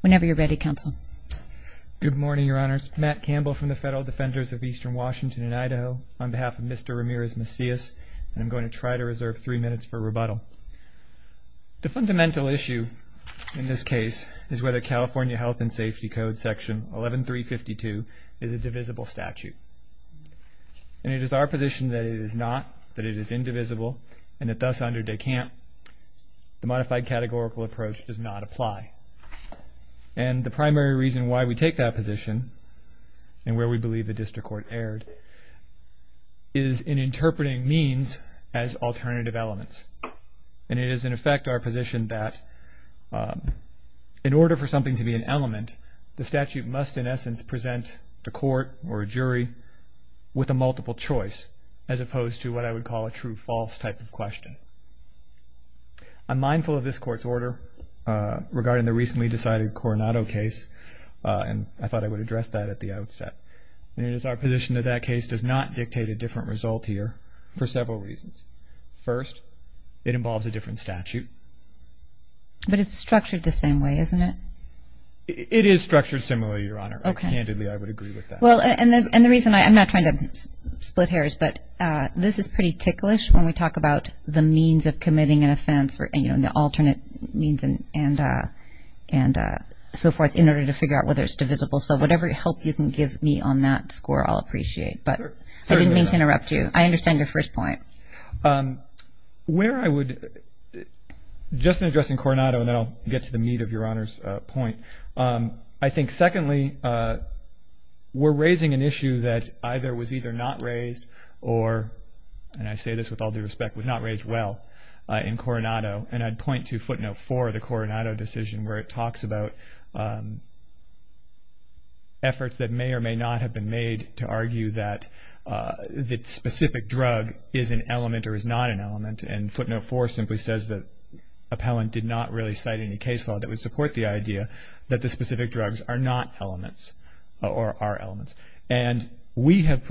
Whenever you're ready, Counsel. Good morning, Your Honors. Matt Campbell from the Federal Defenders of Eastern Washington and Idaho on behalf of Mr. Ramirez-Macias, and I'm going to try to reserve three minutes for rebuttal. The fundamental issue in this case is whether California Health and Safety Code Section 11352 is a divisible statute. And it is our position that it is not, that it is indivisible, and that thus under DECAMP the modified categorical approach does not apply. And the primary reason why we take that position, and where we believe the district court erred, is in interpreting means as alternative elements. And it is, in effect, our position that in order for something to be an element, the statute must, in essence, present a court or a jury with a multiple choice as opposed to what I would call a true-false type of question. I'm mindful of this Court's order regarding the recently decided Coronado case, and I thought I would address that at the outset. And it is our position that that case does not dictate a different result here for several reasons. First, it involves a different statute. But it's structured the same way, isn't it? It is structured similarly, Your Honor. Candidly, I would agree with that. Well, and the reason I'm not trying to split hairs, but this is pretty ticklish when we talk about the means of committing an offense, the alternate means and so forth, in order to figure out whether it's divisible. So whatever help you can give me on that score, I'll appreciate. But I didn't mean to interrupt you. I understand your first point. Where I would, just in addressing Coronado, and then I'll get to the meat of Your Honor's point, I think, secondly, we're raising an issue that either was either not raised or, and I say this with all due respect, was not raised well in Coronado. And I'd point to footnote 4 of the Coronado decision, where it talks about efforts that may or may not have been made to argue that specific drug is an element or is not an element. And footnote 4 simply says that appellant did not really cite any case law that would support the idea that the specific drugs are not elements or are elements. And we have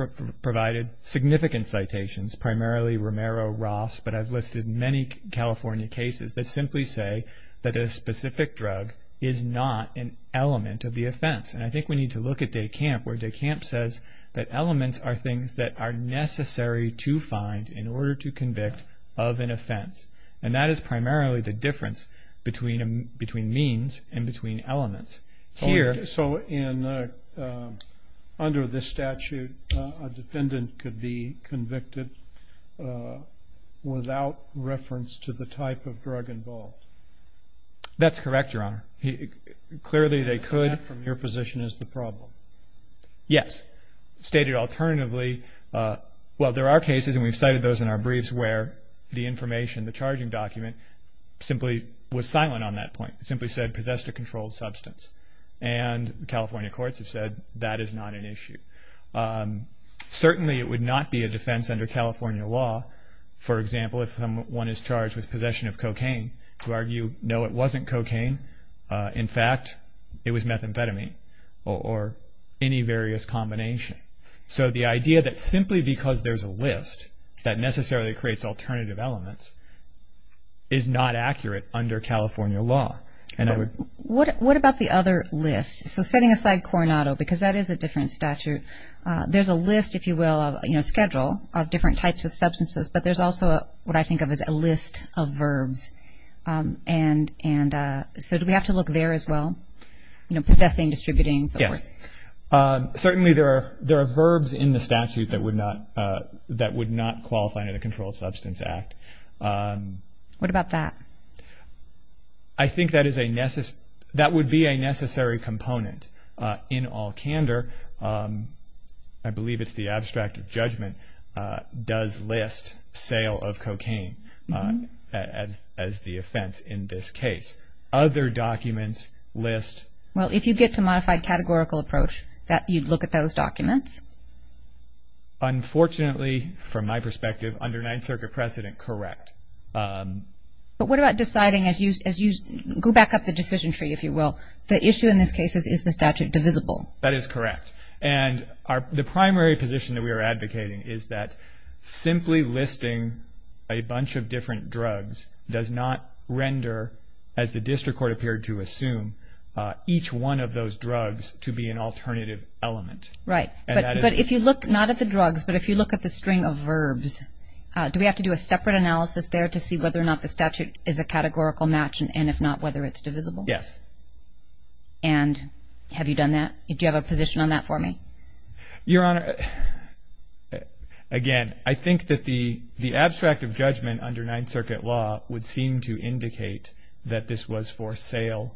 provided significant citations, primarily Romero, Ross, but I've listed many California cases that simply say that a specific drug is not an element of the offense. And I think we need to look at DeCamp, where DeCamp says that elements are things that are necessary to find in order to convict of an offense. And that is primarily the difference between means and between elements. Here. So in, under this statute, a defendant could be convicted without reference to the type of drug involved? That's correct, Your Honor. Clearly, they could. And that, from your position, is the problem? Yes. Stated alternatively, well, there are cases, and we've cited those in our briefs, where the information, the charging document, simply was silent on that point. It simply said, possessed a controlled substance. And California courts have said that is not an issue. Certainly, it would not be a defense under California law, for example, if someone is charged with possession of cocaine, to argue, no, it wasn't cocaine. In fact, it was methamphetamine or any various combination. So the idea that simply because there's a list, that necessarily creates alternative elements, is not accurate under California law. What about the other list? So setting aside Coronado, because that is a different statute, there's a list, if you will, of schedule, of different types of substances, but there's also what I think of as a list of verbs. And so do we have to look there as well? Possessing, distributing, so forth. Certainly, there are verbs in the statute that would not qualify under the Controlled Substance Act. What about that? I think that would be a necessary component in all candor. I believe it's the abstract of judgment, does list sale of cocaine as the offense in this case. Other documents list... Well, if you get to modified categorical approach, you'd look at those documents. Unfortunately, from my perspective, under Ninth Circuit precedent, correct. But what about deciding as you go back up the decision tree, if you will, the issue in this case is, is the statute divisible? That is correct. And the primary position that we are advocating is that simply listing a bunch of different drugs does not render, as the district court appeared to assume, each one of those drugs to be an alternative element. Right. But if you look not at the drugs, but if you look at the string of verbs, do we have to do a separate analysis there to see whether or not the statute is a categorical match, and if not, whether it's divisible? Yes. And have you done that? Do you have a position on that for me? Your Honor, again, I think that the abstract of judgment under Ninth Circuit law would seem to indicate that this was for sale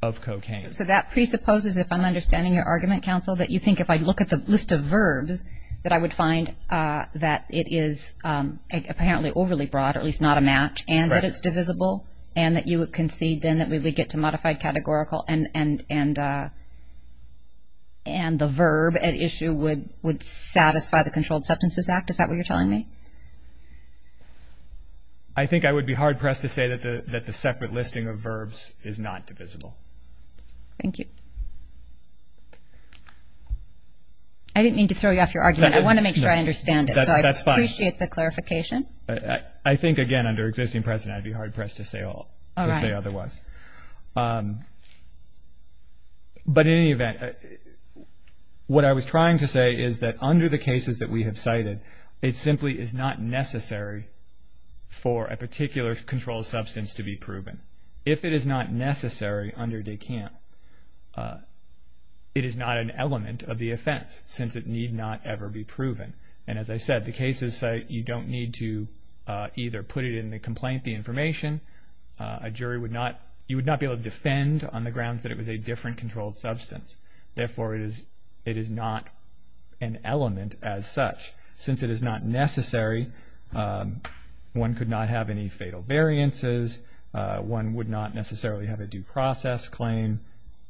of cocaine. So that presupposes, if I'm understanding your argument, Counsel, that you think if I look at the list of verbs that I would find that it is apparently overly broad, or at least not a match, and that it's divisible, and that you would concede then that we would get to modified categorical and the verb at issue would satisfy the Controlled Substances Act? Is that what you're telling me? I think I would be hard-pressed to say that the separate listing of verbs is not divisible. Thank you. I didn't mean to throw you off your argument. I want to make sure I understand it. That's fine. So I appreciate the clarification. I think, again, under existing precedent, I'd be hard-pressed to say otherwise. All right. But in any event, what I was trying to say is that under the cases that we have cited, it simply is not necessary for a particular controlled substance to be proven. If it is not necessary under Descamps, it is not an element of the offense, since it need not ever be proven. And as I said, the cases you don't need to either put it in the complaint, the information. A jury would not be able to defend on the grounds that it was a different controlled substance. Therefore, it is not an element as such. Since it is not necessary, one could not have any fatal variances. One would not necessarily have a due process claim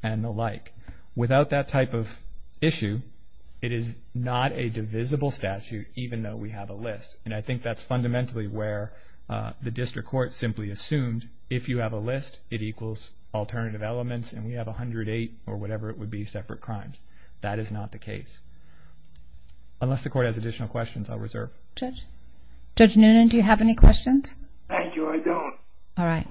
and the like. Without that type of issue, it is not a divisible statute, even though we have a list. And I think that's fundamentally where the district court simply assumed, if you have a list, it equals alternative elements, and we have 108 or whatever it would be separate crimes. That is not the case. Unless the court has additional questions, I'll reserve. Judge? Judge Noonan, do you have any questions? Thank you. I don't. All right.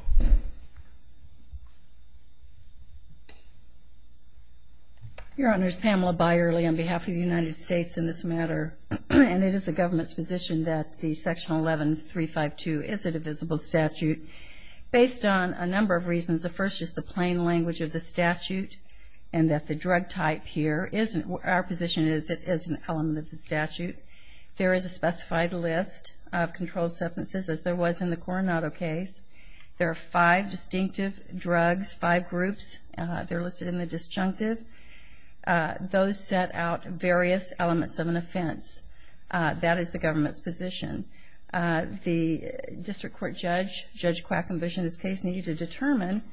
Your Honors, Pamela Byerly on behalf of the United States in this matter. And it is the government's position that the Section 11352 is a divisible statute, based on a number of reasons. The first is the plain language of the statute, and that the drug type here, our position is it is an element of the statute. There is a specified list of controlled substances, as there was in the Coronado case. There are five distinctive drugs, five groups. They're listed in the disjunctive. Those set out various elements of an offense. That is the government's position. The district court judge, Judge Quackenbush, in this case, needed to determine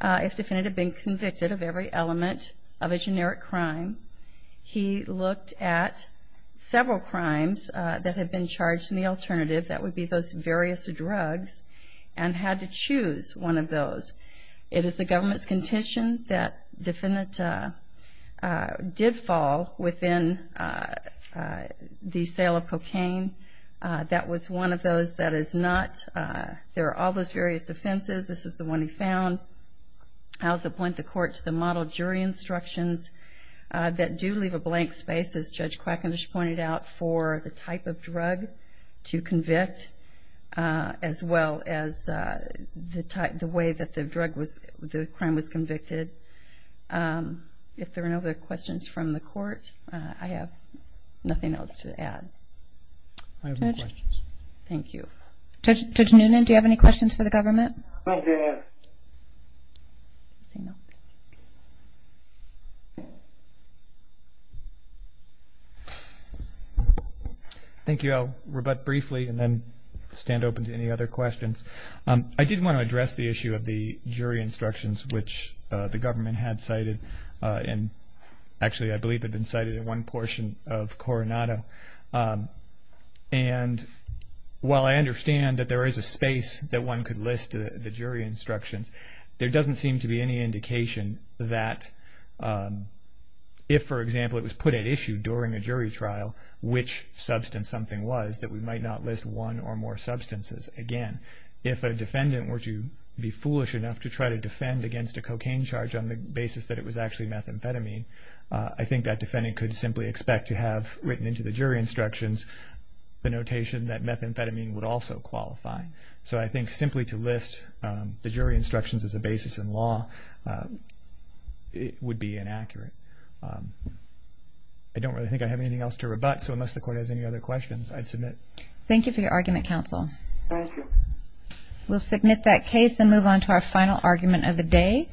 if the defendant had been convicted of every element of a generic crime. He looked at several crimes that had been charged in the alternative, that would be those various drugs, and had to choose one of those. It is the government's contention that the defendant did fall within the sale of cocaine. That was one of those that is not. There are all those various offenses. This is the one he found. I also point the court to the model jury instructions that do leave a blank space, as Judge Quackenbush pointed out, for the type of drug to convict, as well as the way that the crime was convicted. If there are no other questions from the court, I have nothing else to add. I have no questions. Thank you. Thank you. Thank you. I'll rebut briefly and then stand open to any other questions. I did want to address the issue of the jury instructions, which the government had cited, and actually I believe had been cited in one portion of Coronado. While I understand that there is a space that one could list the jury instructions, there doesn't seem to be any indication that if, for example, it was put at issue during a jury trial, which substance something was, that we might not list one or more substances. Again, if a defendant were to be foolish enough to try to defend against a cocaine charge on the basis that it was actually methamphetamine, I think that defendant could simply expect to have written into the jury instructions the notation that methamphetamine would also qualify. So I think simply to list the jury instructions as a basis in law would be inaccurate. I don't really think I have anything else to rebut, so unless the court has any other questions, I'd submit. Thank you for your argument, counsel. Thank you. We'll submit that case and move on to our final argument of the day.